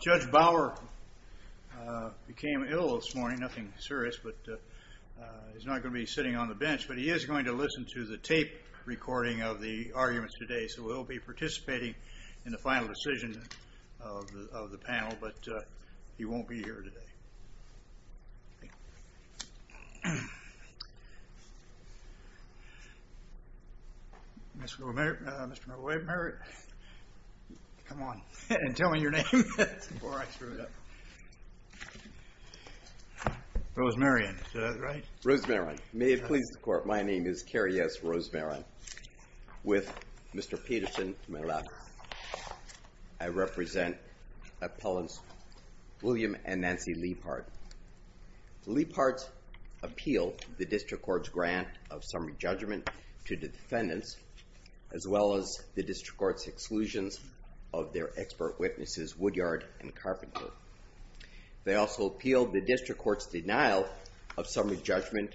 Judge Bauer became ill this morning, nothing serious, but he's not going to be sitting on the bench, but he is going to listen to the tape recording of the arguments today, so he'll be participating in the final decision of the panel, but he won't be here today. Mr. Merritt, Mr. Merritt, come on and tell me your name before I screw it up. Rosemarion, is that right? Rosemarion, may it please the Court, my name is Kerri S. Rosemarion, with Mr. Peterson to my left. I represent appellants William and Nancy Liebhart. Liebhart's appeal the District Court's grant of summary judgment to defendants, as well as the District Court's exclusions of their expert witnesses Woodyard and Carpenter. They also appealed the District Court's denial of summary judgment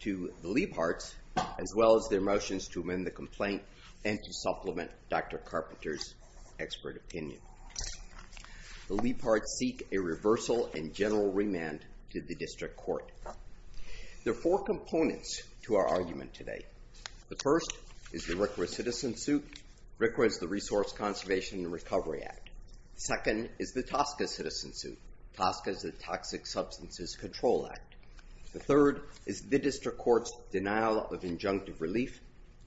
to the Liebharts, as well as their motions to amend the complaint and to supplement Dr. Carpenter's expert opinion. The Liebharts seek a reversal and general remand to the District Court. There are four components to our argument today. The first is the RCRA citizen suit. RCRA is the Resource Conservation and Recovery Act. Second is the TSCA citizen suit. TSCA is the Toxic Substances Control Act. The third is the District Court's denial of injunctive relief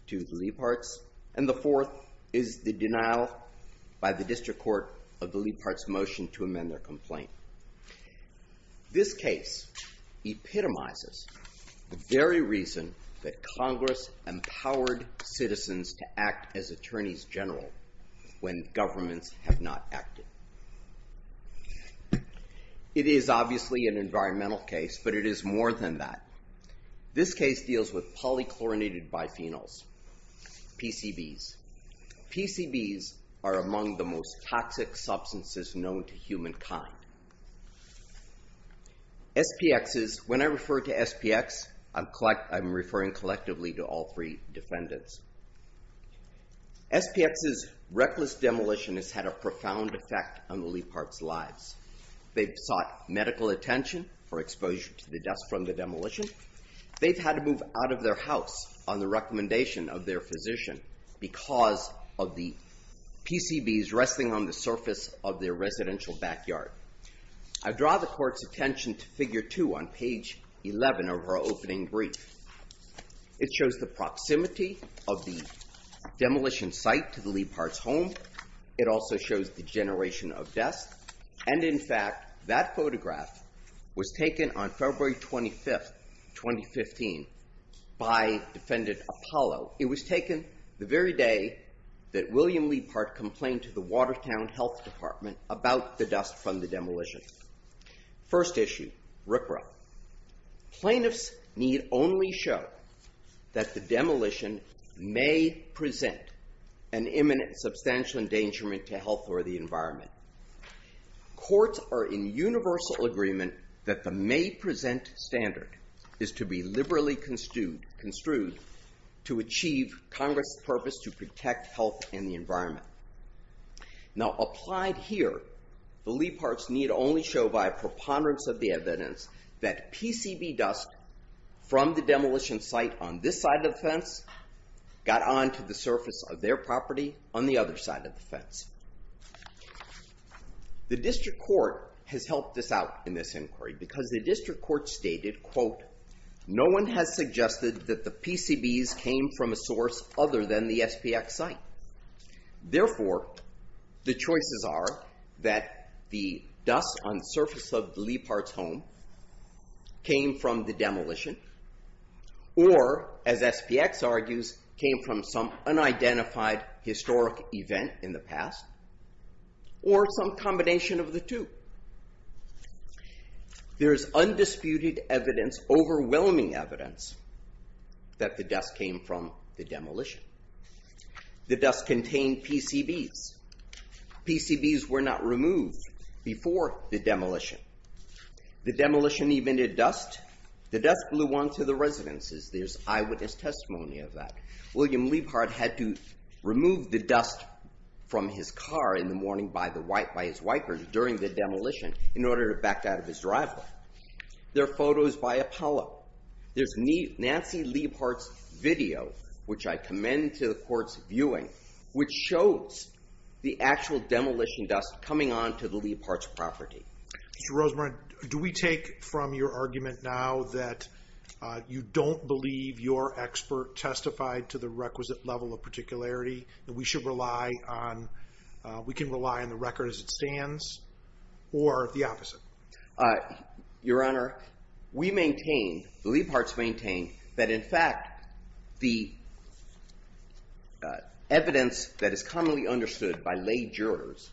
to the Liebharts, and the fourth is the denial by the District Court of their complaint. This case epitomizes the very reason that Congress empowered citizens to act as attorneys general when governments have not acted. It is obviously an environmental case, but it is more than that. This case deals with polychlorinated biphenyls, PCBs. PCBs are among the most toxic substances known to humankind. SPXs, when I refer to SPX, I'm referring collectively to all three defendants. SPX's reckless demolition has had a profound effect on the Liebharts' lives. They've sought medical attention for exposure to the dust from the demolition. They've had to move out of their house on the recommendation of their physician because of the PCBs resting on the surface of their residential backyard. I draw the court's attention to figure two on page 11 of her opening brief. It shows the proximity of the demolition site to the Liebharts' home. It also shows the generation of dust, and in fact, that photograph was taken on February 25th, 2015, by defendant Apollo. It was taken the very day that William Liebhart complained to the Watertown Health Department about the dust from the demolition. First issue, RCRA. Plaintiffs need only show that the demolition may present an environmental standard. Courts are in universal agreement that the may present standard is to be liberally construed to achieve Congress' purpose to protect health and the environment. Now, applied here, the Liebharts need only show by preponderance of the evidence that PCB dust from the demolition site on this side of the fence got onto the surface of their property on the other side of the fence. The district court has helped us out in this inquiry because the district court stated, quote, no one has suggested that the PCBs came from a source other than the SPX site. Therefore, the choices are that the dust on surface of Liebharts' home came from the demolition or, as SPX argues, came from some unidentified historic event in the past or some combination of the two. There's undisputed evidence, overwhelming evidence, that the dust came from the demolition. The dust contained PCBs. PCBs were not removed before the demolition. The demolition even did dust. The dust blew onto the residences. There's eyewitness testimony of that. William Liebhart had to remove the dust from his car in the morning by his wipers during the demolition in order to back out of his driveway. There are photos by Apollo. There's Nancy Liebhart's video, which I commend to the court's viewing, which shows the actual demolition dust coming onto the Liebharts' property. Mr. Rosemarie, do we take from your argument now that you don't believe your expert testified to the requisite level of particularity, that we should rely on, we can rely on the record as it stands, or the opposite? Your Honor, we maintain, the Liebharts maintain, that in fact the evidence that by lay jurors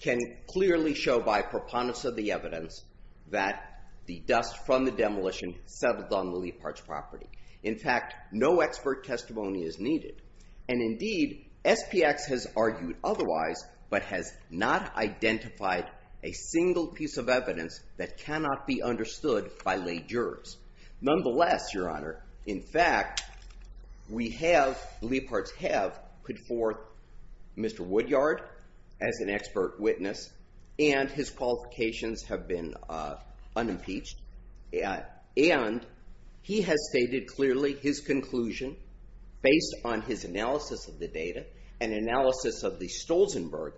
can clearly show by preponderance of the evidence that the dust from the demolition settled on the Liebharts' property. In fact, no expert testimony is needed. And indeed, SPX has argued otherwise, but has not identified a single piece of evidence that cannot be understood by lay jurors. Nonetheless, Your Honor, in fact, we have, Liebharts have put forth Mr. Woodyard as an expert witness, and his qualifications have been unimpeached. And he has stated clearly his conclusion based on his analysis of the data and analysis of the Stolzenberg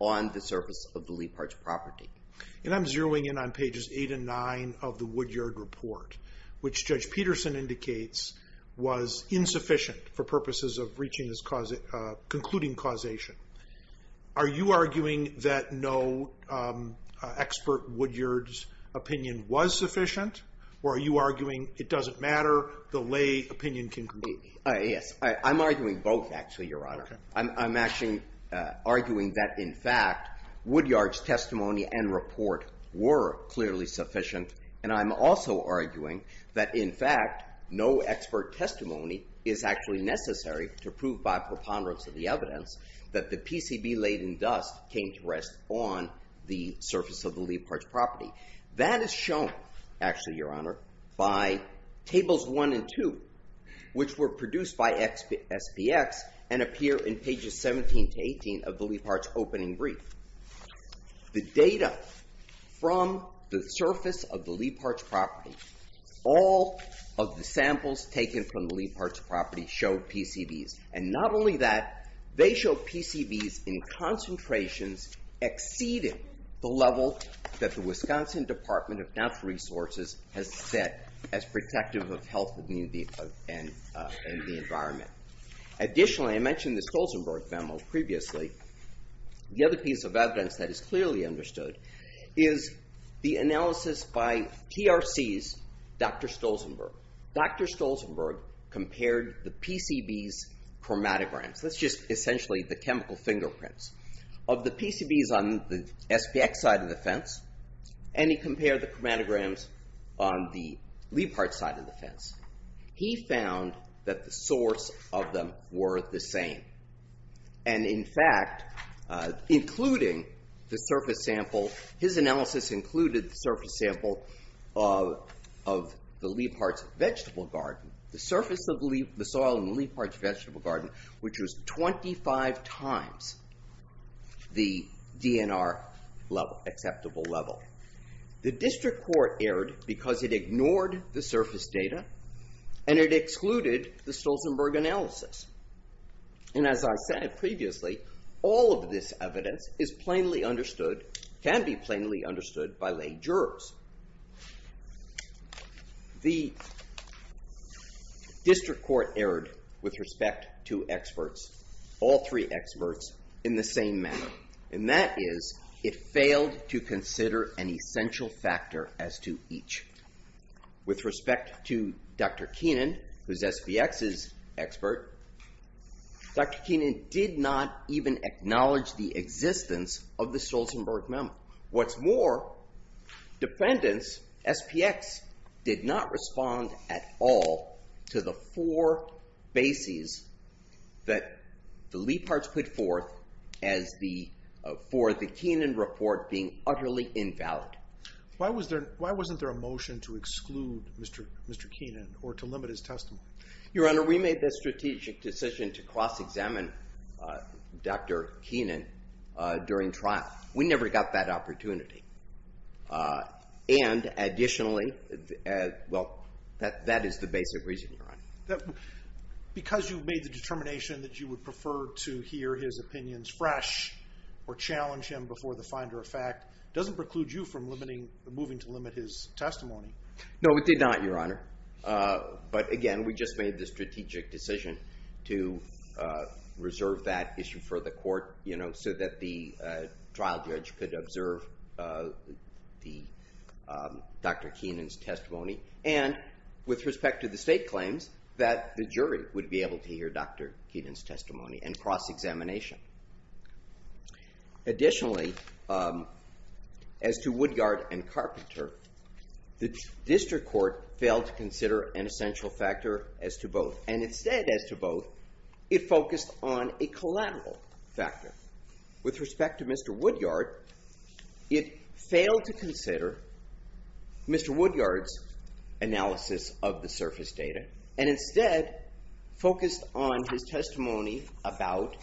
on the surface of the Liebharts' property. And I'm zeroing in on pages 8 and 9 of the Woodyard report, which Judge Peterson indicates was insufficient for purposes of reaching his causation, concluding causation. Are you arguing that no expert Woodyard's opinion was sufficient, or are you arguing it doesn't matter, the lay opinion can? Yes, I'm arguing both actually, Your Honor. Okay. I'm actually arguing that, in fact, Woodyard's testimony and report were clearly sufficient. And I'm also arguing that, in fact, no expert testimony is actually necessary to prove by preponderance of the evidence that the PCB-laden dust came to rest on the surface of the Liebharts' property. That is shown, actually, Your Honor, by tables 1 and 2, which were produced by SPX and appear in pages 17 to 18 of the Liebharts' opening brief. The data from the surface of the Liebharts' property, all of the samples taken from the Liebharts' property show PCBs. And not only that, they show PCBs in concentrations exceeding the level that the Wisconsin Department of Natural Resources has set as protective of health and the environment. Additionally, I mentioned the Stolzenberg family previously. The other piece of evidence that is clearly understood is the analysis by TRC's Dr. Stolzenberg. Dr. Stolzenberg compared the PCBs chromatograms. That's just essentially the chemical fingerprints of the PCBs on the SPX side of the fence. And he compared the chromatograms on the Liebharts' side of the fence. He found that the source of them were the same. And in fact, including the surface sample, his analysis included the surface sample of the Liebharts' vegetable garden. The surface of the soil in the Liebharts' vegetable garden, which was 25 times the DNR acceptable level. The district court erred because it ignored the surface data and it excluded the Stolzenberg analysis. And as I said previously, all of this evidence is plainly understood, can be plainly understood by lay jurors. The district court erred with respect to experts, all three experts, in the same manner. And that is, it failed to consider an With respect to Dr. Keenan, who's SPX's expert, Dr. Keenan did not even acknowledge the existence of the Stolzenberg memo. What's more, defendants, SPX, did not respond at all to the four bases that the Liebharts put forth as the, for the Keenan report being utterly invalid. Why was there, why wasn't there a motion to exclude Mr. Keenan or to limit his testimony? Your Honor, we made the strategic decision to cross-examine Dr. Keenan during trial. We never got that opportunity. And additionally, well, that is the basic reason, Your Honor. Because you made the determination that you would prefer to hear his opinions fresh or challenge him before the finder of fact doesn't preclude you from limiting, moving to limit his testimony. No, it did not, Your Honor. But again, we just made the strategic decision to reserve that issue for the court, you know, so that the trial judge could observe the Dr. Keenan's testimony. And with respect to the state claims, that the jury would be able to hear Dr. Keenan's testimony and cross-examination. Additionally, as to Woodyard and Carpenter, the district court failed to consider an essential factor as to both. And instead, as to both, it focused on a collateral factor. With respect to Mr. Woodyard, it failed to consider Mr. Woodyard's analysis of the surface data. And instead, focused on his testimony about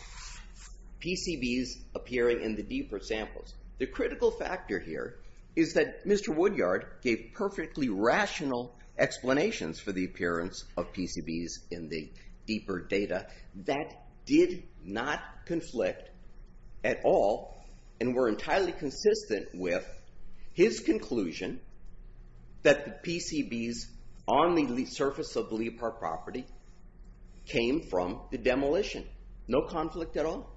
PCBs appearing in the deeper samples. The critical factor here is that Mr. Woodyard gave perfectly rational explanations for the appearance of PCBs in the deeper data that did not conflict at all and were entirely consistent with his conclusion that the PCBs on the surface of the Leap Heart property came from the demolition. No conflict at all.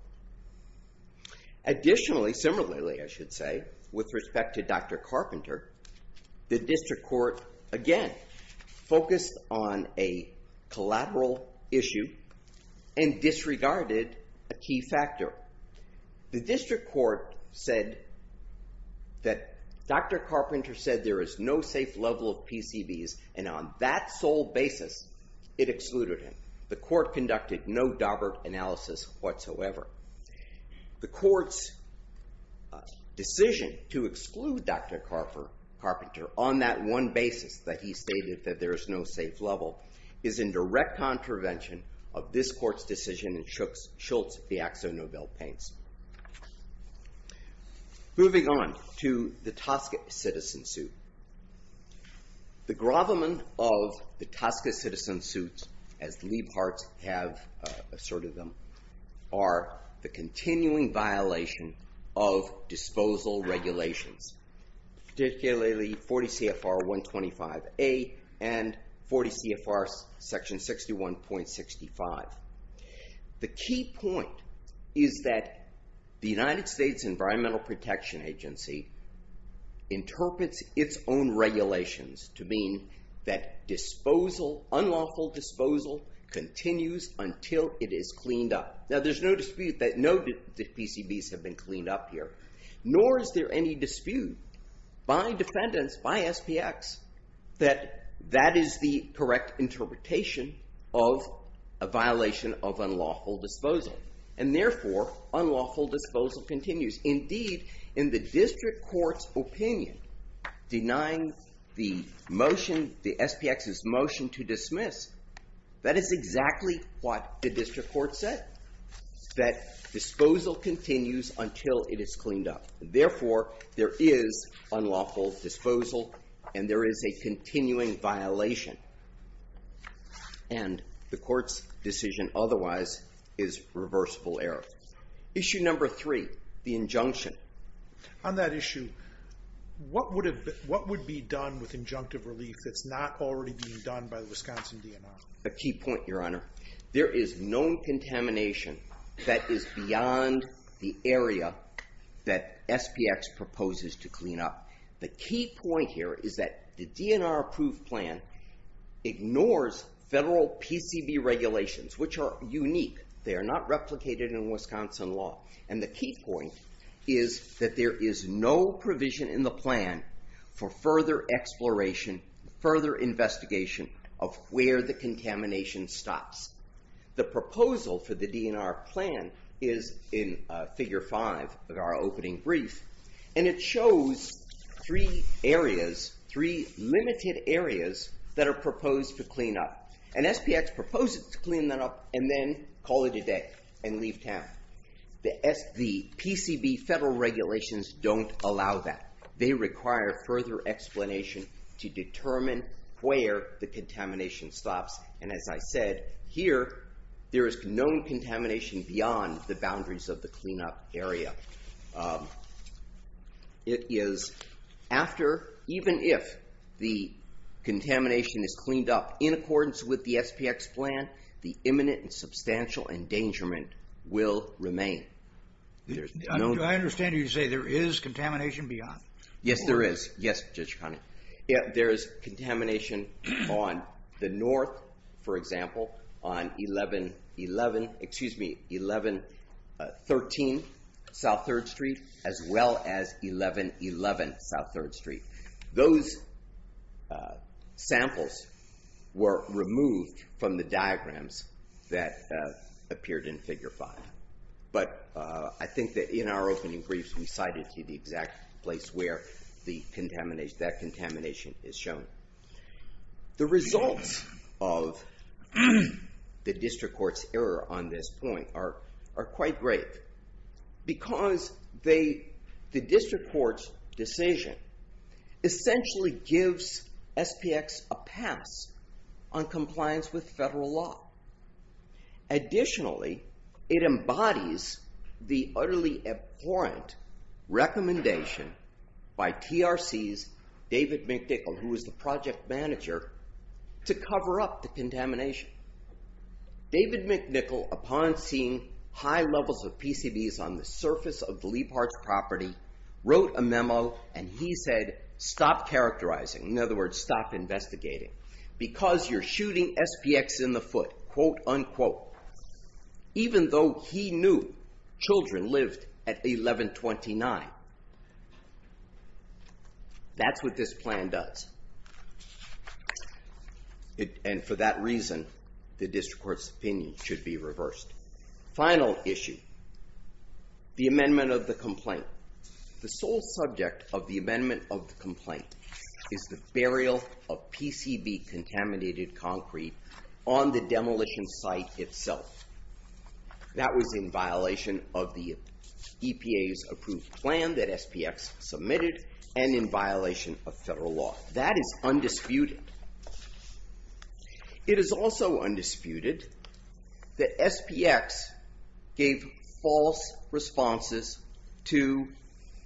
Additionally, similarly, I should say, with respect to Dr. Carpenter, the district court, again, focused on a collateral issue and disregarded a key factor. The district court said that Dr. Carpenter said there is no safe level of PCBs and on that sole basis, it excluded him. The court conducted no dobert analysis whatsoever. The court's decision to exclude Dr. Carpenter on that one basis that he stated that there is no safe level is in direct contravention of this court's decision and Schultz, the Axo Nobel paints. Moving on to the Tosca citizen suit. The grovelman of the Leap Hearts have asserted them are the continuing violation of disposal regulations, particularly 40 CFR 125A and 40 CFR section 61.65. The key point is that the United States Environmental Protection Agency interprets its own continues until it is cleaned up. Now, there's no dispute that no PCBs have been cleaned up here, nor is there any dispute by defendants, by SPX, that that is the correct interpretation of a violation of unlawful disposal and therefore, unlawful disposal continues. Indeed, in the district court's opinion, denying the motion, the SPX's motion to dismiss, that is exactly what the district court said, that disposal continues until it is cleaned up. Therefore, there is unlawful disposal and there is a continuing violation and the court's decision otherwise is reversible error. Issue number three, the what would be done with injunctive relief that's not already being done by the Wisconsin DNR? A key point, your honor. There is no contamination that is beyond the area that SPX proposes to clean up. The key point here is that the DNR approved plan ignores federal PCB regulations, which are unique. They are not replicated in Wisconsin law and the key point is that there is no provision in the plan for further exploration, further investigation of where the contamination stops. The proposal for the DNR plan is in figure five of our opening brief and it shows three areas, three limited areas that are proposed to clean up and SPX proposes to clean that up and then call it a day and allow that. They require further explanation to determine where the contamination stops and as I said, here there is known contamination beyond the boundaries of the cleanup area. It is after, even if the contamination is cleaned up in accordance with the SPX plan, the imminent and substantial endangerment will remain. Do I understand you to say there is contamination beyond? Yes, there is. Yes, Judge Connolly. There is contamination on the north, for example, on 1113 South 3rd Street as well as 1111 South 3rd Street. Those samples were removed from the diagrams that appeared in figure five, but I think that in our opening briefs we cited to the exact place where the contamination, that contamination is shown. The results of the district court's error on this point are quite great because they, the essentially gives SPX a pass on compliance with federal law. Additionally, it embodies the utterly abhorrent recommendation by TRC's David McNichol, who is the project manager, to cover up the contamination. David McNichol, upon seeing high levels of PCBs on the surface of the area, said, stop characterizing. In other words, stop investigating because you're shooting SPX in the foot, quote unquote, even though he knew children lived at 1129. That's what this plan does. And for that reason, the district court's opinion should be reversed. Final issue, the amendment of the complaint is the burial of PCB contaminated concrete on the demolition site itself. That was in violation of the EPA's approved plan that SPX submitted and in violation of federal law. That is undisputed. It is also undisputed that SPX gave false responses to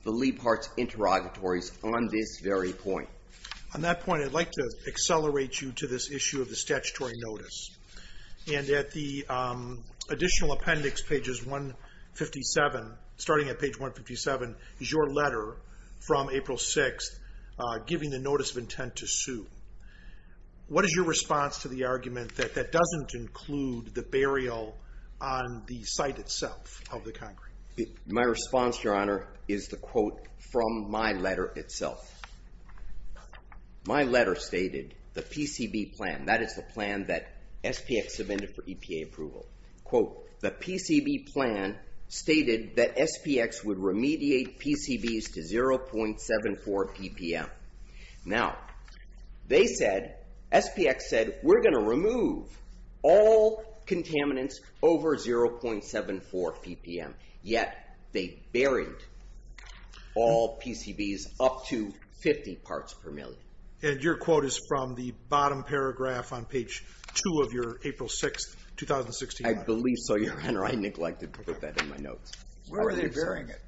the Liebhardt's interrogatories on this very point. On that point, I'd like to accelerate you to this issue of the statutory notice. And at the additional appendix, pages 157, starting at page 157, is your letter from April 6th, giving the notice of intent to sue. What is your response to the argument that that doesn't include the burial on the site itself of the concrete? My response, your honor, is the quote from my letter itself. My letter stated the PCB plan, that is the plan that SPX submitted for EPA approval, quote, the PCB plan stated that SPX would remediate PCBs to 0.74 ppm. Now, they said, SPX said, we're going to remove all contaminants over 0.74 ppm. Yet, they buried all PCBs up to 50 parts per million. And your quote is from the bottom paragraph on page two of your April 6th, 2016. I believe so, your honor. I neglected to put that in my notes. Where were they burying it?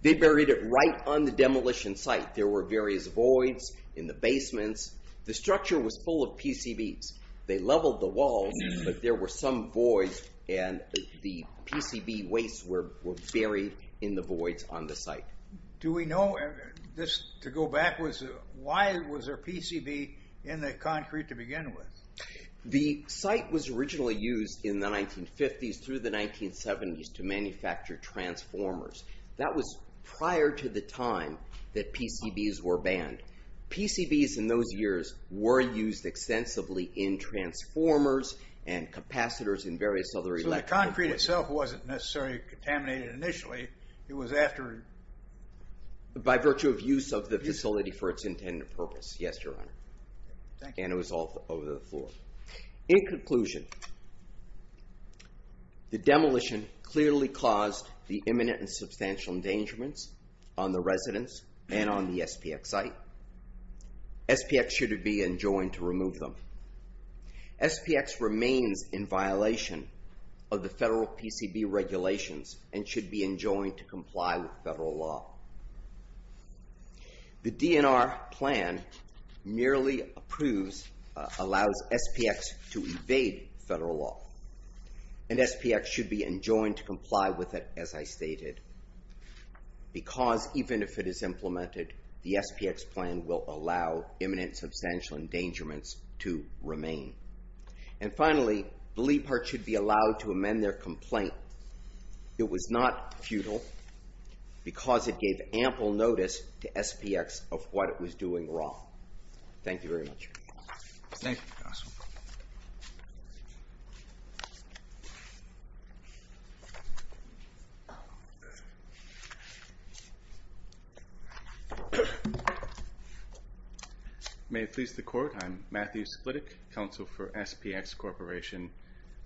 They buried it right on the demolition site. There were various voids in the basements. The structure was full of PCBs. They leveled the walls, but there were some voids, and the PCB wastes were buried in the voids on the site. Do we know, just to go backwards, why was there PCB in the concrete to begin with? The site was originally used in the 1950s through the 1970s to manufacture transformers. That was prior to the time that PCBs were banned. PCBs in those years were used extensively in transformers and capacitors and various other... So the concrete itself wasn't necessarily contaminated initially. It was after... By virtue of use of the facility for its intended purpose. Yes, your honor. And it was all over the floor. In conclusion, the demolition clearly caused the imminent and substantial endangerments on the residents and on the SPX site. SPX should be enjoined to remove them. SPX remains in violation of the federal PCB regulations and should be enjoined to comply with federal law. The DNR plan merely approves... Allows SPX to evade federal law. And SPX should be enjoined to comply with it, as I stated. Because even if it is implemented, the SPX plan will allow imminent substantial endangerments to remain. And finally, the Leap Heart should be allowed to amend their complaint. It was not futile because it gave ample notice to SPX of what it was doing wrong. Thank you very much. Thank you, counsel. May it please the court. I'm Matthew Splittick, counsel for SPX Corporation,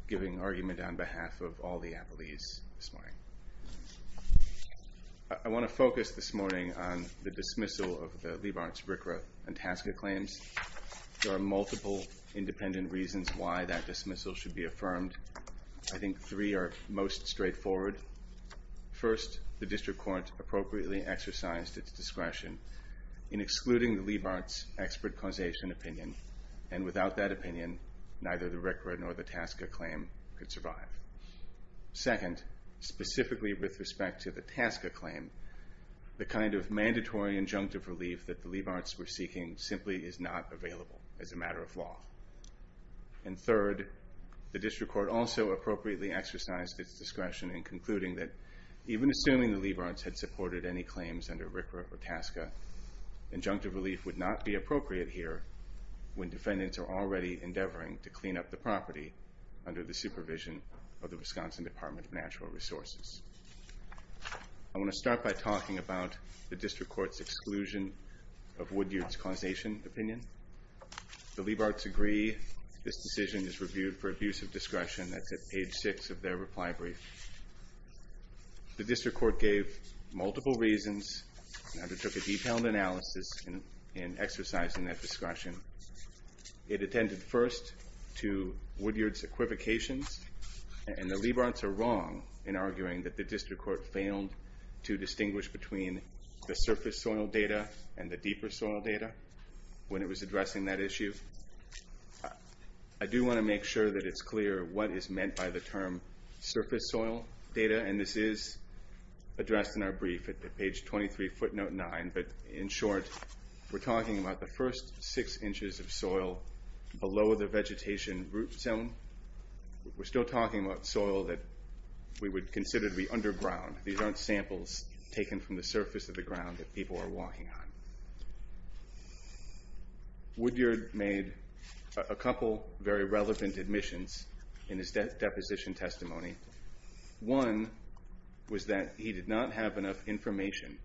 giving argument on behalf of all the appellees this morning. I wanna focus this morning on the dismissal of the Leap Heart's RCRA and TASCA claims. There are multiple independent reasons why that dismissal should be affirmed. I think three are most straightforward. First, the district court appropriately exercised its discretion in excluding the Leap Heart's expert causation opinion. And without that opinion, neither the RCRA nor the TASCA claim could survive. Second, specifically with respect to the TASCA claim, the kind of mandatory injunctive relief that the Leap Heart's were seeking simply is not available as a matter of law. And third, the district court also appropriately exercised its discretion in concluding that even assuming the Leap Heart's had supported any claims under RCRA or TASCA, injunctive relief would not be appropriate here when defendants are already endeavoring to clean up the property under the supervision of the Wisconsin Department of Natural Resources. I wanna start by talking about the district court's exclusion of Wood Yard. The Leap Heart's agree this decision is reviewed for abuse of discretion. That's at page six of their reply brief. The district court gave multiple reasons and undertook a detailed analysis in exercising that discretion. It attended first to Wood Yard's equivocations, and the Leap Heart's are wrong in arguing that the district court failed to distinguish between the surface soil data and the deeper soil data when it was addressing that issue. I do wanna make sure that it's clear what is meant by the term surface soil data, and this is addressed in our brief at page 23 footnote nine, but in short, we're talking about the first six inches of soil below the vegetation root zone. We're still talking about soil that we would consider to be underground. These aren't samples taken from the surface of the ground that people are walking on. Wood Yard made a couple very relevant admissions in his deposition testimony. One was that he did not have enough information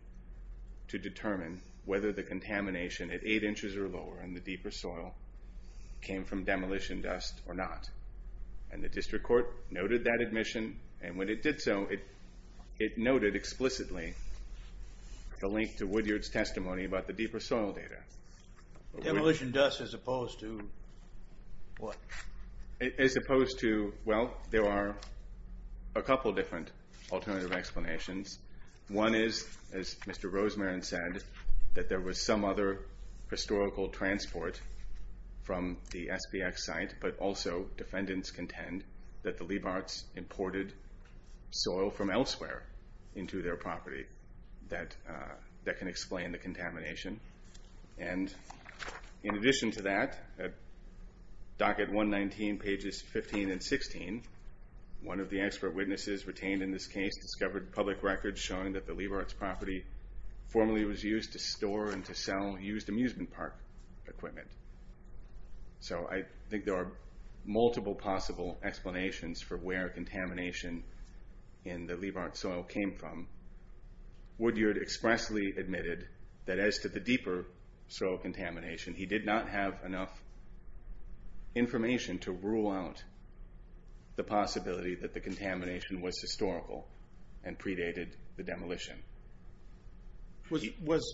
to determine whether the contamination at eight inches or lower in the deeper soil came from demolition dust or not. And the district court noted that admission, and when it did so, it noted explicitly the link to Wood Yard's testimony about the deeper soil data. Demolition dust as opposed to what? As opposed to, well, there are a couple of different alternative explanations. One is, as Mr. Rosemarin said, that there was some other historical transport from the SPX site, but also defendants contend that the Leap Heart's imported soil from elsewhere into their property that can explain the contamination. And in addition to that, at docket 119 pages 15 and 16, one of the expert witnesses retained in this case discovered public records showing that the Leap Heart's property formerly was used to store and to sell used amusement park equipment. So I think there are multiple possible explanations for where the contamination in the Leap Heart soil came from. Wood Yard expressly admitted that as to the deeper soil contamination, he did not have enough information to rule out the possibility that the contamination was historical and predated the demolition. Was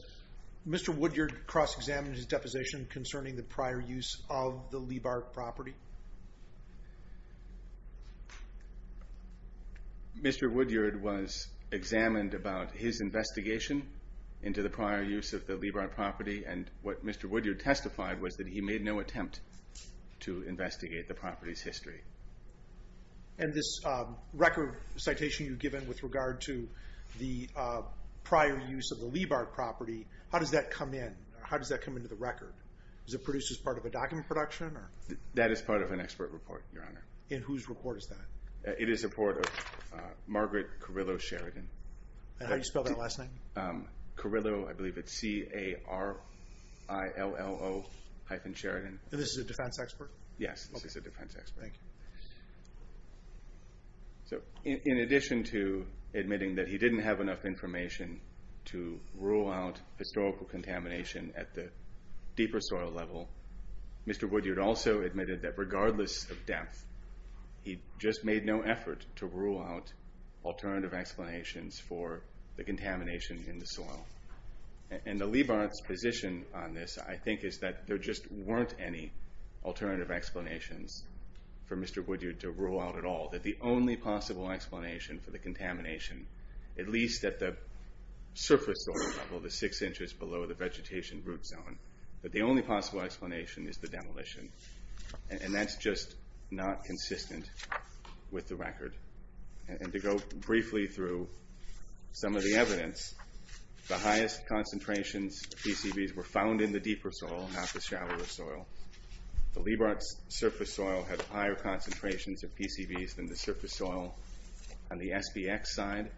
Mr. Wood Yard cross-examined his deposition concerning the prior use of the Leap Heart property? Mr. Wood Yard was examined about his investigation into the prior use of the Leap Heart property, and what Mr. Wood Yard testified was that he made no attempt to investigate the property's history. And this record citation you've given with regard to the prior use of the Leap Heart property, how does that come in? How does that come into the record? Is it produced as part of a document production? That is part of an expert report, Your Honor. In whose report is that? It is a report of Margaret Carrillo Sheridan. And how do you spell that last name? Carrillo, I believe it's C-A-R-I-L-L-O hyphen Sheridan. And this is a defense expert? Yes, this is a defense expert. Thank you. So in addition to admitting that he didn't have enough information to rule out historical contamination at the deeper soil level, Mr. Wood Yard also admitted that regardless of depth, he just made no effort to rule out alternative explanations for the contamination in the soil. And the Leap Heart's position on this, I think, is that there just weren't any alternative explanations for Mr. Wood Yard to rule out at all. That the only possible explanation for the contamination, at least at the surface soil level, the six inches below the vegetation root zone, that the only possible explanation is the and that's just not consistent with the record. And to go briefly through some of the evidence, the highest concentrations of PCBs were found in the deeper soil, not the shallower soil. The Leap Heart's surface soil had higher concentrations of PCBs than the surface soil on the SBX side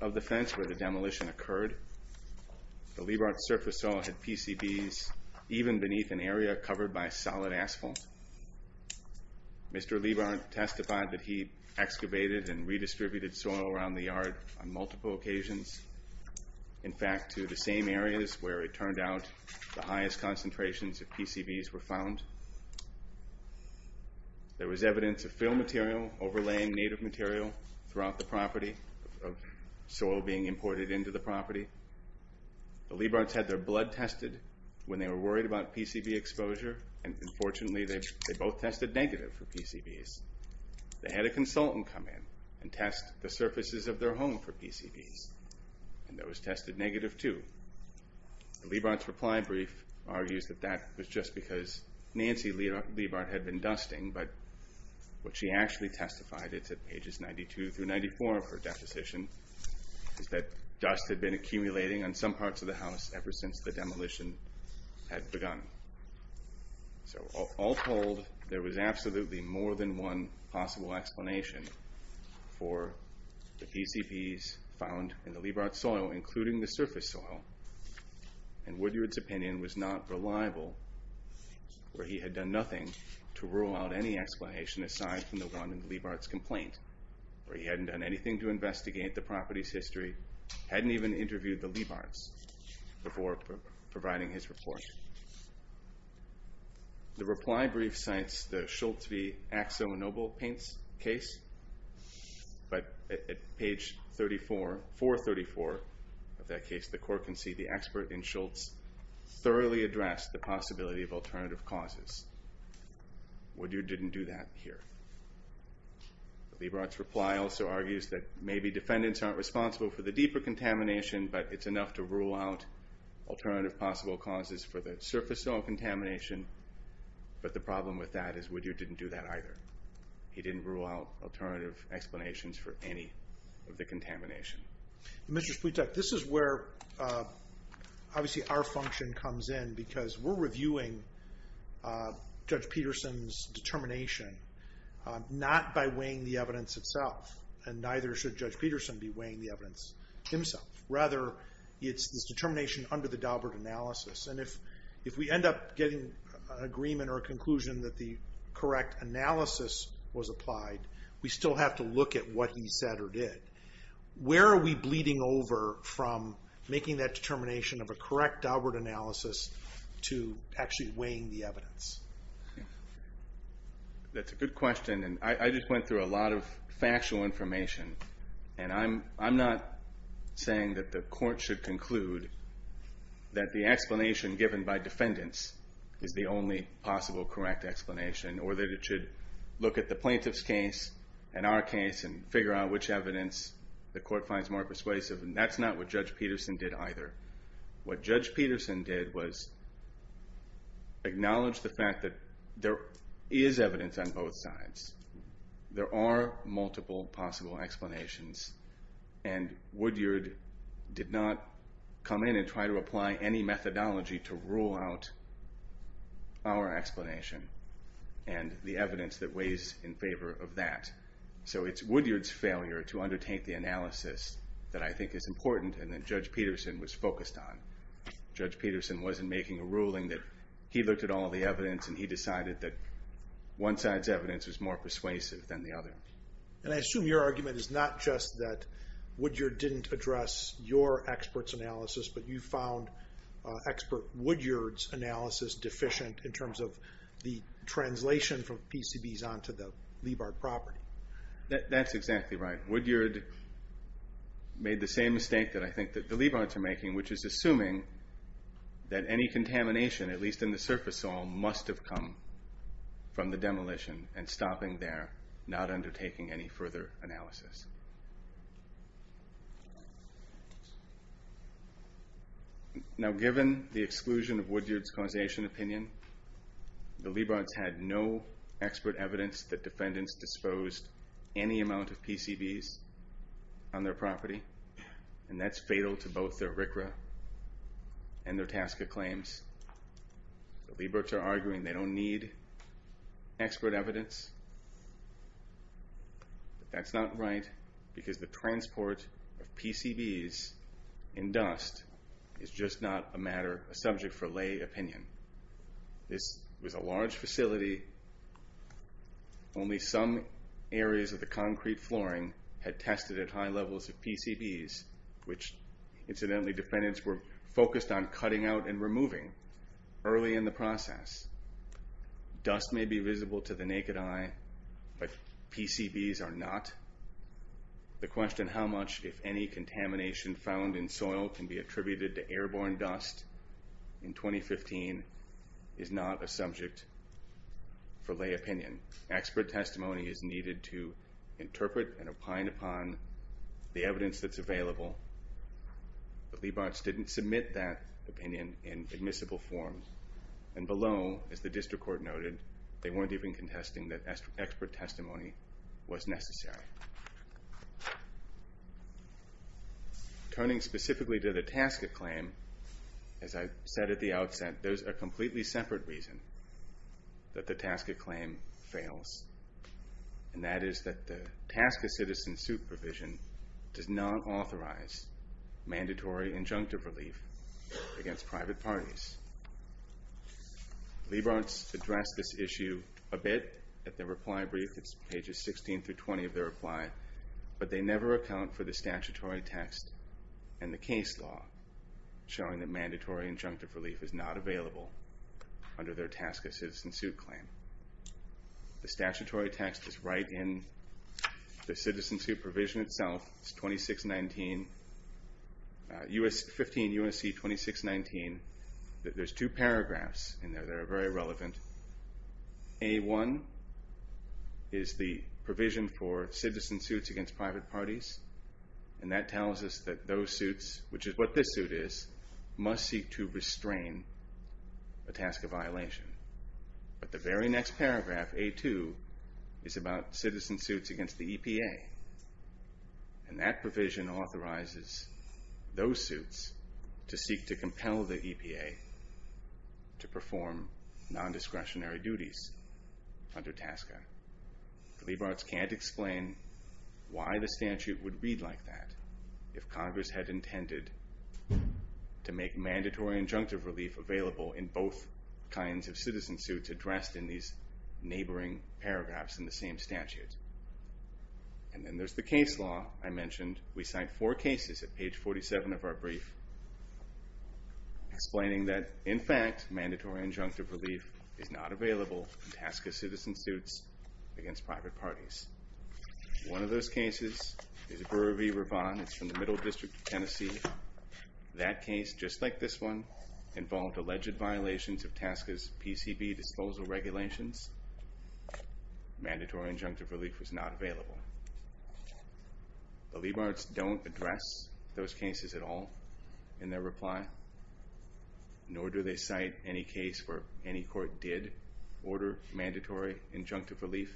of the fence where the demolition occurred. The Leap Heart's surface soil had PCBs even beneath an area covered by solid asphalt. Mr. Leap Heart testified that he excavated and redistributed soil around the yard on multiple occasions. In fact, to the same areas where it turned out the highest concentrations of PCBs were found. There was evidence of fill material overlaying native material throughout the property, of soil being imported into the property. The Leap Heart's had their blood tested when they were worried about PCB exposure, and unfortunately they both tested negative for PCBs. They had a consultant come in and test the surfaces of their home for PCBs, and those tested negative too. The Leap Heart's reply brief argues that that was just because Nancy Leap Heart had been dusting, but what she actually testified, it's at pages 92 through 94 of her deposition, is that dust had been accumulating on some parts of the house ever since the demolition had begun. So all told, there was absolutely more than one possible explanation for the PCBs found in the Leap Heart's soil, including the surface soil. And Woodyard's opinion was not reliable, where he had done nothing to rule out any explanation aside from the one in the Leap Heart's complaint, where he hadn't done anything to investigate the property's history, hadn't even interviewed the Leap Heart's before providing his report. The reply brief cites the Schultz v. Axel Noble case, but at page 434 of that case, the court can see the expert in Schultz thoroughly addressed the possibility of alternative causes. Woodyard didn't do that here. The Leap Heart's reply also argues that maybe defendants aren't responsible for the deeper contamination, but it's enough to rule out alternative possible causes for the surface soil contamination, but the problem with that is Woodyard didn't do that either. He didn't rule out alternative explanations for any of the contamination. Mr. Splietek, this is where obviously our function comes in, because we're reviewing Judge Peterson's determination, not by weighing the evidence itself, and neither should Judge Peterson be weighing the evidence himself. Rather, it's this determination under the Daubert analysis, and if we end up getting an agreement or a conclusion that the correct analysis was applied, we still have to look at what he said or did. Where are we bleeding over from making that determination of a correct Daubert analysis to actually weighing the evidence? That's a good question, and I just went through a lot of factual information, and I'm not saying that the court should conclude that the explanation given by defendants is the only possible correct explanation, or that it should look at the plaintiff's case and our case and figure out which evidence the court finds more persuasive, and that's not what Judge Peterson did either. What Judge Peterson did was acknowledge the fact that there is evidence on both sides. There are multiple possible explanations, and Woodyard did not come in and try to apply any methodology to rule out our evidence that weighs in favor of that. So it's Woodyard's failure to undertake the analysis that I think is important and that Judge Peterson was focused on. Judge Peterson wasn't making a ruling that he looked at all the evidence and he decided that one side's evidence was more persuasive than the other. And I assume your argument is not just that Woodyard didn't address your expert's analysis, but you found expert Woodyard's analysis deficient in terms of the translation from PCBs onto the Leibart property. That's exactly right. Woodyard made the same mistake that I think that the Leibarts are making, which is assuming that any contamination, at least in the surface soil, must have come from the demolition, and stopping there, not undertaking any further analysis. Now given the exclusion of Woodyard's causation opinion, the Leibarts had no expert evidence that defendants disposed any amount of PCBs on their property, and that's fatal to both their RCRA and their task of claims. The Leibarts are arguing they don't need expert evidence, but that's not right because the transport of PCBs in dust is just not a matter, a subject for lay opinion. This was a large facility, only some areas of the concrete flooring had tested at high levels of PCBs, which incidentally defendants were focused on cutting out and removing early in the process. Dust may be visible to the naked eye, but PCBs are not. The question how much, if any, contamination found in soil can be attributed to airborne dust in 2015 is not a subject for lay opinion. Expert testimony is needed to interpret and opine upon the evidence that's available. The Leibarts didn't submit that opinion in admissible form, and below, as the district court noted, they did not. Turning specifically to the task of claim, as I said at the outset, there's a completely separate reason that the task of claim fails, and that is that the task of citizen supervision does not authorize mandatory injunctive relief against private parties. Leibarts addressed this issue a bit at their reply, but they never account for the statutory text and the case law showing that mandatory injunctive relief is not available under their task of citizen suit claim. The statutory text is right in the citizen supervision itself, it's 2619, 15 U.S.C. 2619. There's two paragraphs in there that are very relevant. A1 is the provision for citizen suits against private parties, and that tells us that those suits, which is what this suit is, must seek to restrain the task of violation. But the very next paragraph, A2, is about citizen suits against the EPA, and that provision authorizes those suits to seek to compel the EPA to perform discretionary duties under TASCA. Leibarts can't explain why the statute would read like that if Congress had intended to make mandatory injunctive relief available in both kinds of citizen suits addressed in these neighboring paragraphs in the same statute. And then there's the case law I mentioned. We cite four cases at page 47 of our brief explaining that, in fact, mandatory injunctive relief is not available in TASCA citizen suits against private parties. One of those cases is Brewer v. Ravon. It's from the Middle District of Tennessee. That case, just like this one, involved alleged violations of TASCA's PCB disposal regulations. Mandatory injunctive relief was not available. The Leibarts don't address those cases at all in their reply, nor do they cite any case where any court did order mandatory injunctive relief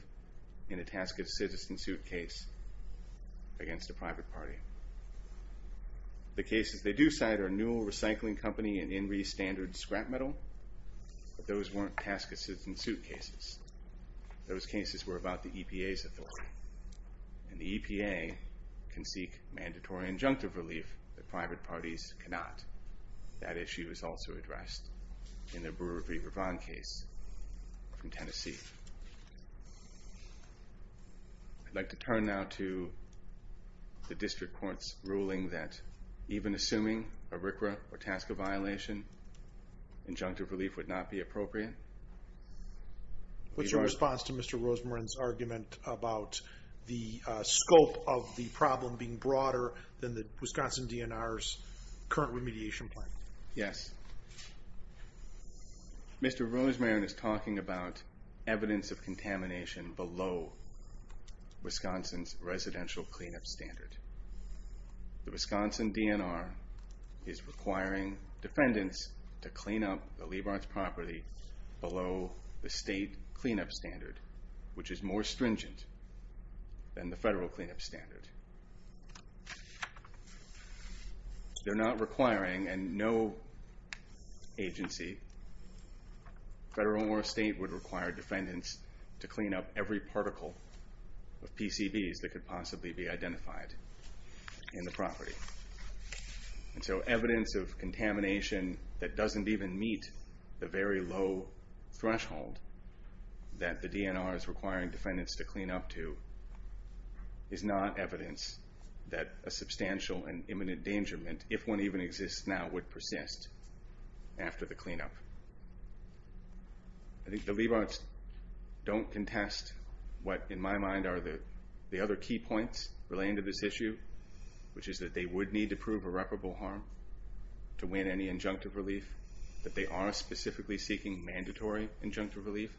in a TASCA citizen suit case against a private party. The cases they do cite are Newell Recycling Company and INRI Standard Scrap Metal. Those weren't TASCA citizen suit cases. Those cases were about the EPA's authority. And the EPA can seek mandatory injunctive relief that private parties cannot. That issue is also addressed in the Brewer v. Ravon case from Tennessee. I'd like to turn now to the district court's ruling that even assuming a RCRA or TASCA violation, injunctive relief would not be appropriate. What's your response to Mr. Rosemarine's argument about the scope of the problem being broader than the state? Mr. Rosemarine is talking about evidence of contamination below Wisconsin's residential cleanup standard. The Wisconsin DNR is requiring defendants to clean up the Leibarts' property below the state cleanup standard, which is more stringent than the federal cleanup standard. They're not requiring, and no agency, federal or state, would require defendants to clean up every particle of PCBs that could possibly be identified in the property. And so evidence of contamination that doesn't even meet the very low threshold that the DNR is requiring defendants to clean up to is not evidence that a substantial and imminent endangerment, if one even exists now, would persist after the cleanup. I think the Leibarts don't contest what in my mind are the other key points relating to this issue, which is that they would need to prove irreparable harm to win any injunctive relief, that they are specifically seeking mandatory injunctive relief,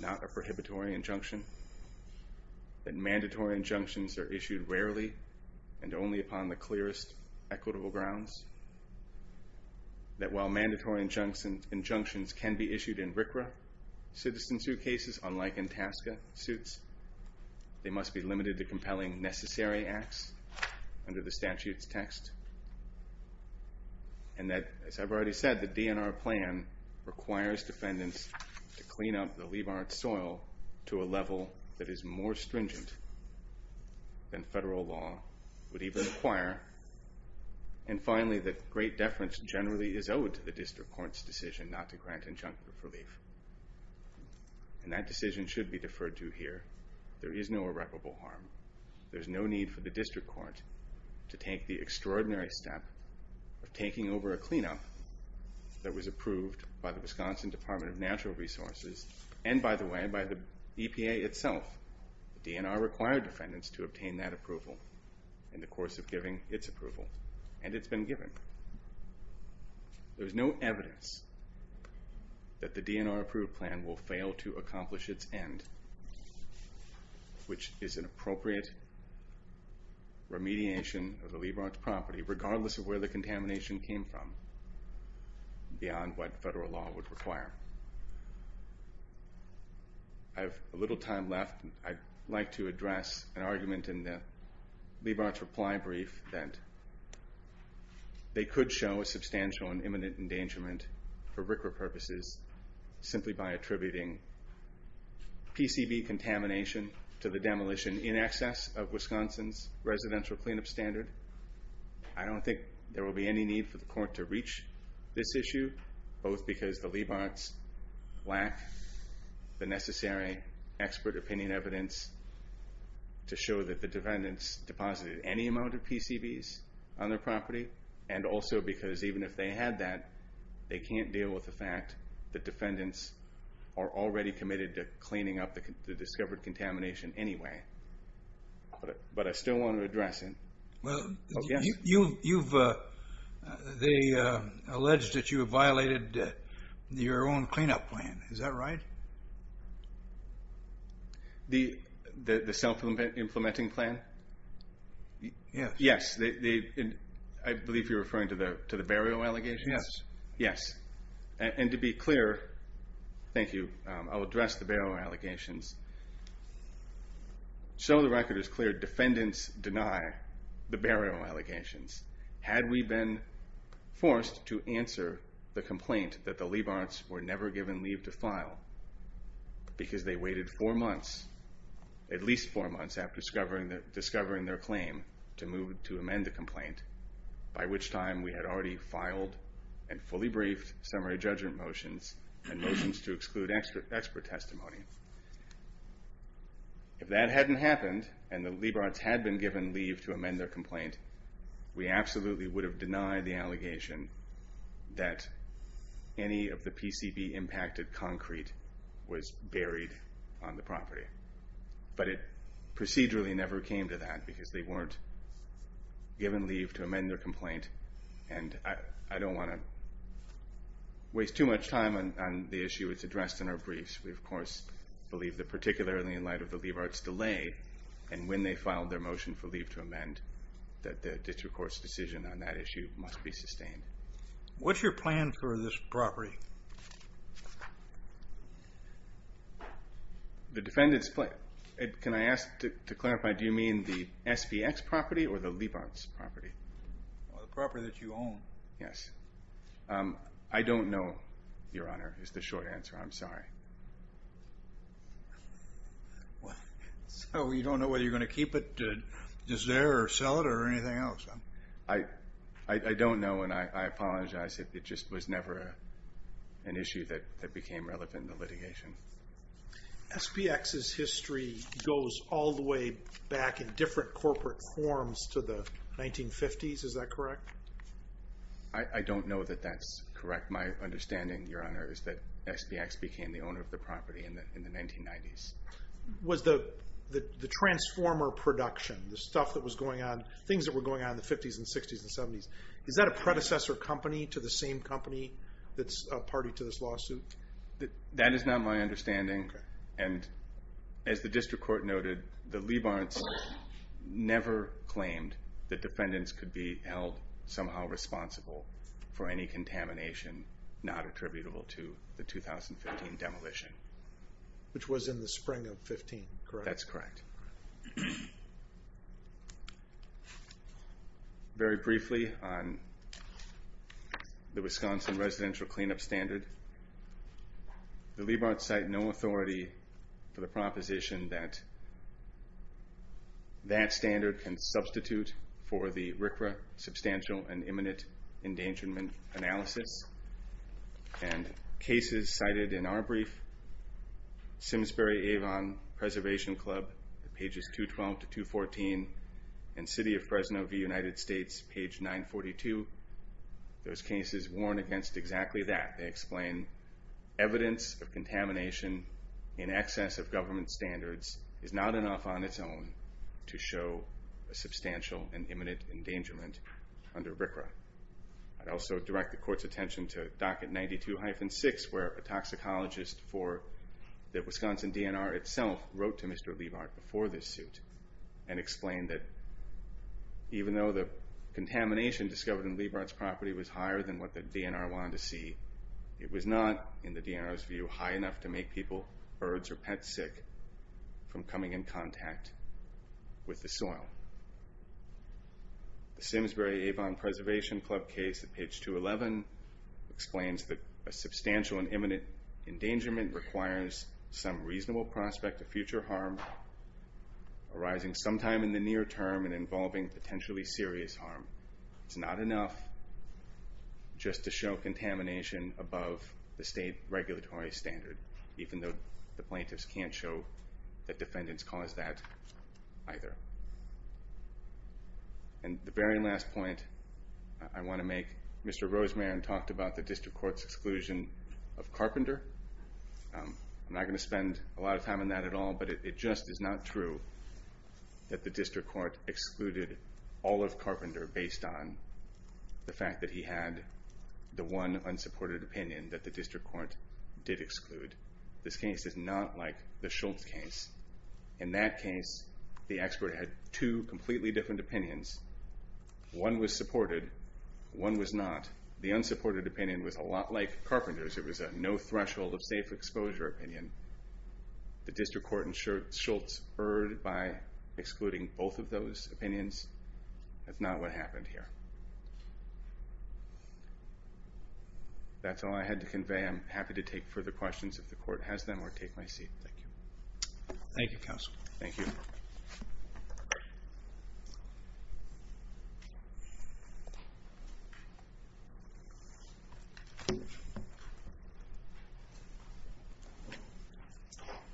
not a prohibitory injunction, that mandatory injunctions are issued rarely and only upon the clearest equitable grounds, that while mandatory injunctions can be issued in RCRA citizen suitcases, unlike in TASCA suits, they must be limited to compelling necessary acts under the statute's text, and that, as I've already said, the DNR plan requires defendants to clean up the Leibarts' soil to a level that is more stringent than federal law would even require, and finally, that great deference generally is owed to the district court's decision not to grant injunctive relief. And that decision should be deferred to here. There is no irreparable harm. There's no need for the district court to take the extraordinary step of taking over a cleanup that was approved by the EPA itself. The DNR required defendants to obtain that approval in the course of giving its approval, and it's been given. There's no evidence that the DNR approved plan will fail to accomplish its end, which is an appropriate remediation of the Leibarts' property, regardless of where the I have a little time left. I'd like to address an argument in the Leibarts' reply brief that they could show a substantial and imminent endangerment for RCRA purposes simply by attributing PCB contamination to the demolition in excess of Wisconsin's residential cleanup standard. I don't think there will be any need for the court to reach this issue, both because the Leibarts' lack the necessary expert opinion evidence to show that the defendants deposited any amount of PCBs on their property, and also because even if they had that, they can't deal with the fact that defendants are already committed to cleaning up the discovered contamination anyway. But I still want to address it. Well, they alleged that you have violated your own cleanup plan. Is that right? The self-implementing plan? Yes. Yes. I believe you're referring to the burial allegations? Yes. Yes. And to be clear, thank you, I'll address the burial allegations. So the record is clear, defendants deny the burial allegations. Had we been forced to answer the file, because they waited four months, at least four months after discovering their claim, to move to amend the complaint, by which time we had already filed and fully briefed summary judgment motions and motions to exclude expert testimony. If that hadn't happened, and the Leibarts had been given leave to amend their complaint, we absolutely would have denied the allegation that any of the PCB impacted concrete was buried on the property. But it procedurally never came to that, because they weren't given leave to amend their complaint. And I don't wanna waste too much time on the issue, it's addressed in our briefs. We, of course, believe that particularly in light of the Leibarts delay, and when they filed their motion for leave to amend, that the district court's decision on that issue must be sustained. What's your plan for this property? The defendant's... Can I ask to clarify, do you mean the SVX property or the Leibarts property? The property that you own. Yes. I don't know, Your Honor, is the short answer, I'm sorry. So you don't know whether you're gonna keep it just there or sell it or anything else? I don't know, and I apologize. It just was never an issue that became relevant in the litigation. SVX's history goes all the way back in different corporate forms to the 1950s, is that correct? I don't know that that's correct. My understanding, Your Honor, is that SVX became the owner of the property in the 1990s. Was the transformer production, the stuff that was going on, things that were going on in the 50s and 60s and 70s, is that a predecessor company to the same company that's a party to this lawsuit? That is not my understanding, and as the district court noted, the Leibarts never claimed that defendants could be held somehow responsible for any contamination not attributable to the 2015 demolition. Which was in the spring of 15, correct? That's correct. Very briefly on the Wisconsin residential cleanup standard, the Leibarts cite no authority for the proposition that that standard can substitute for the RCRA substantial and imminent endangerment analysis. And cases cited in our brief, Simsbury Avon Preservation Club, pages 212 to 214 and City of Fresno v. United States, page 942, those cases warn against exactly that. They explain evidence of contamination in excess of government standards is not enough on its own to show a substantial and imminent endangerment under RCRA. I'd also direct the court's attention to docket 92-6, where a toxicologist for the Wisconsin DNR itself wrote to Mr. Leibart before this suit and explained that even though the contamination discovered in Leibart's property was higher than what the DNR wanted to see, it was not, in the DNR's view, high enough to make people, birds or pets sick from coming in contact with the soil. The Simsbury Avon Preservation Club case at page 211 explains that a substantial and imminent endangerment requires some reasonable prospect of future harm arising sometime in the near term and involving potentially serious harm. It's not enough just to show contamination above the state regulatory standard, even though the plaintiffs can't show that defendants cause that either. And the very last point I wanna make, Mr. Rosemann talked about the district court's exclusion of Carpenter. I'm not gonna spend a lot of time on that at all, but it just is not true that the district court excluded all of Carpenter based on the fact that he had the one unsupported opinion that the district court did exclude. This case is not like the Schultz case. In that case, the expert had two completely different opinions. One was supported, one was not. The unsupported opinion was a lot like Carpenter's. It was a no threshold of safe exposure opinion. The district court in Schultz erred by excluding both of those opinions. That's not what happened here. That's all I had to convey. I'm happy to take further questions if the court has them or take my seat. Thank you. Thank you, counsel. Thank you.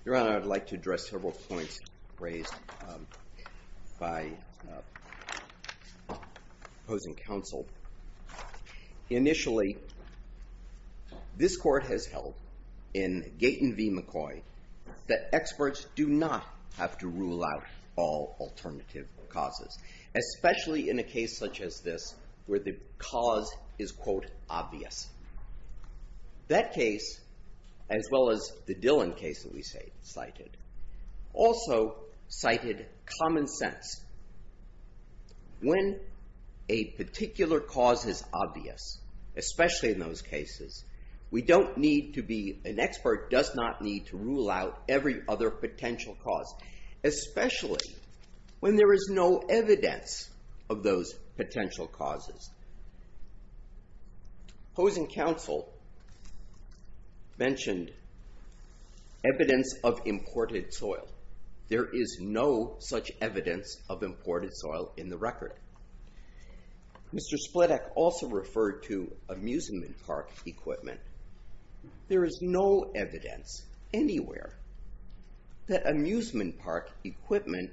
Your Honor, I'd like to address several points raised by opposing counsel. Initially, this court has held in Gaten v. McCoy that experts do not have to rule out all alternative causes, especially in a case such as this where the cause is, quote, obvious. That case, as well as the Dillon case that we cited, also cited common sense. When a particular cause is obvious, especially in those cases, we don't need to be, an expert does not need to rule out every other potential causes. Opposing counsel mentioned evidence of imported soil. There is no such evidence of imported soil in the record. Mr. Splittack also referred to amusement park equipment. There is no evidence anywhere that amusement park equipment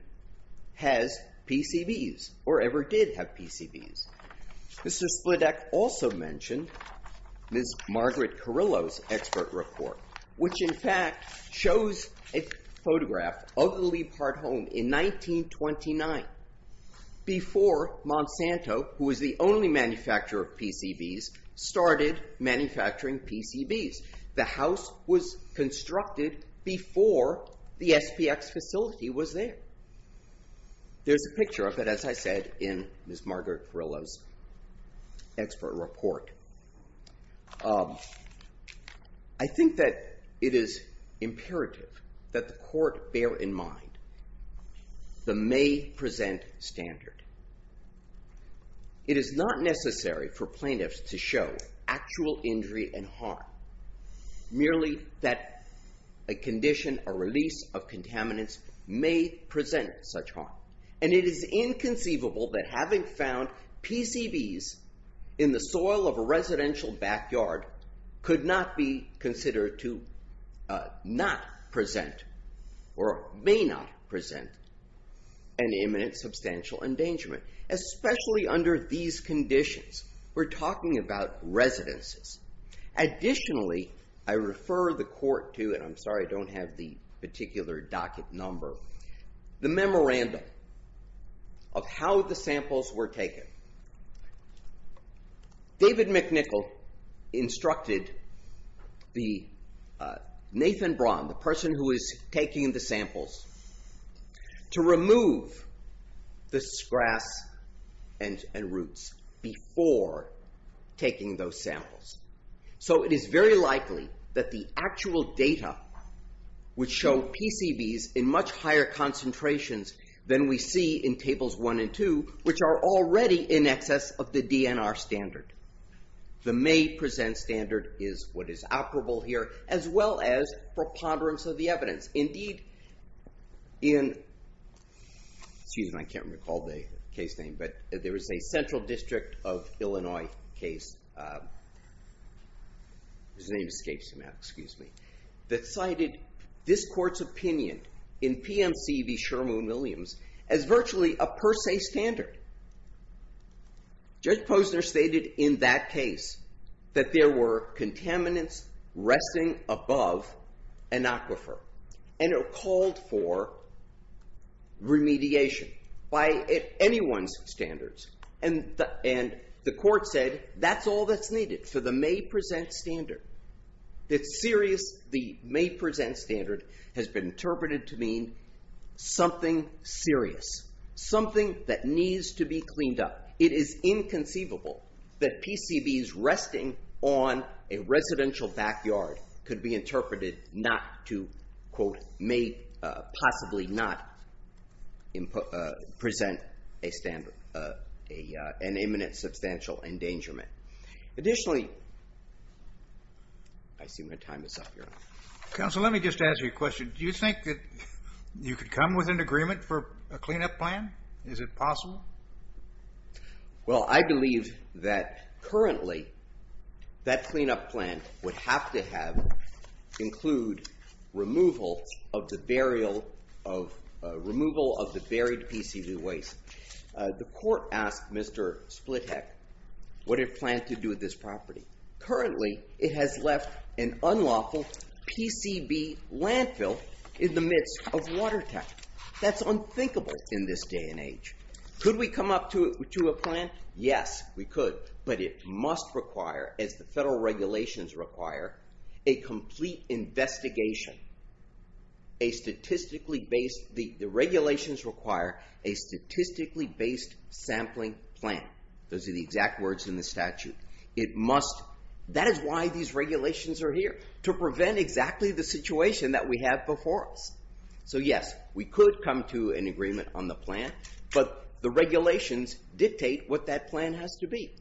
has PCBs or ever did have PCBs. Mr. Splittack also mentioned Ms. Margaret Carrillo's expert report, which in fact shows a photograph of the Leap Heart home in 1929, before Monsanto, who was the only manufacturer of PCBs, started manufacturing PCBs. The house was constructed before the SPX facility was there. There's a picture of it, as I said, in Ms. Margaret Carrillo's expert report. I think that it is imperative that the court bear in mind the may present standard. It is not necessary for plaintiffs to show actual injury and harm. Merely that a condition, a release of contaminants may present such harm. And it is inconceivable that having found PCBs in the soil of a residential backyard could not be considered to not present or may not present an imminent substantial endangerment, especially under these conditions. We're talking about residences. Additionally, I refer the court to, and I'm sorry I don't have the particular docket number, the memorandum of how the samples were taken. David McNichol instructed Nathan Braun, the person who is taking the samples, to remove the grass and roots before taking those samples. So it is very likely that the actual data would show PCBs in much higher concentrations than we see in tables 1 and 2, which are already in excess of the DNR standard. The may present standard is what is operable here, as well as preponderance of the evidence. Indeed, in, excuse me, I can't recall the case name, but there was a central district of Illinois case, whose name escapes me now, excuse me, that cited this court's opinion in PMC v. Sherman Williams as virtually a per se standard. Judge Posner stated in that case that there were contaminants resting above an aquifer and are called for remediation by anyone's standards. And the court said that's all that's needed for the may present standard. It's serious, the may present standard has been interpreted to mean something serious, something that needs to be cleaned up. It is inconceivable that PCBs may possibly not present an imminent substantial endangerment. Additionally, I assume my time is up here. Counselor, let me just ask you a question. Do you think that you could come with an agreement for a cleanup plan? Is it possible? Well, I believe that currently that cleanup plan would have to have include removal of the buried PCB waste. The court asked Mr. Splitheck what it planned to do with this property. Currently, it has left an unlawful PCB landfill in the midst of water tech. That's unthinkable in this day and age. Could we come up to a plan? Yes, we could, but it must require, as the federal regulations require, a complete investigation, a statistically based, the regulations require a statistically based sampling plan. Those are the exact words in the statute. It must, that is why these regulations are here, to prevent exactly the situation that we have before us. So yes, we could come to an agreement on the plan, but the regulations dictate what that plan has to be.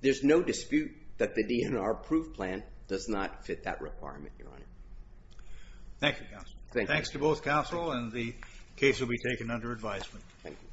There's no dispute that the DNR approved plan does not fit that requirement, Your Honor. Thank you, Counselor. Thanks to both counsel and the case will be taken under advisement. Thank you.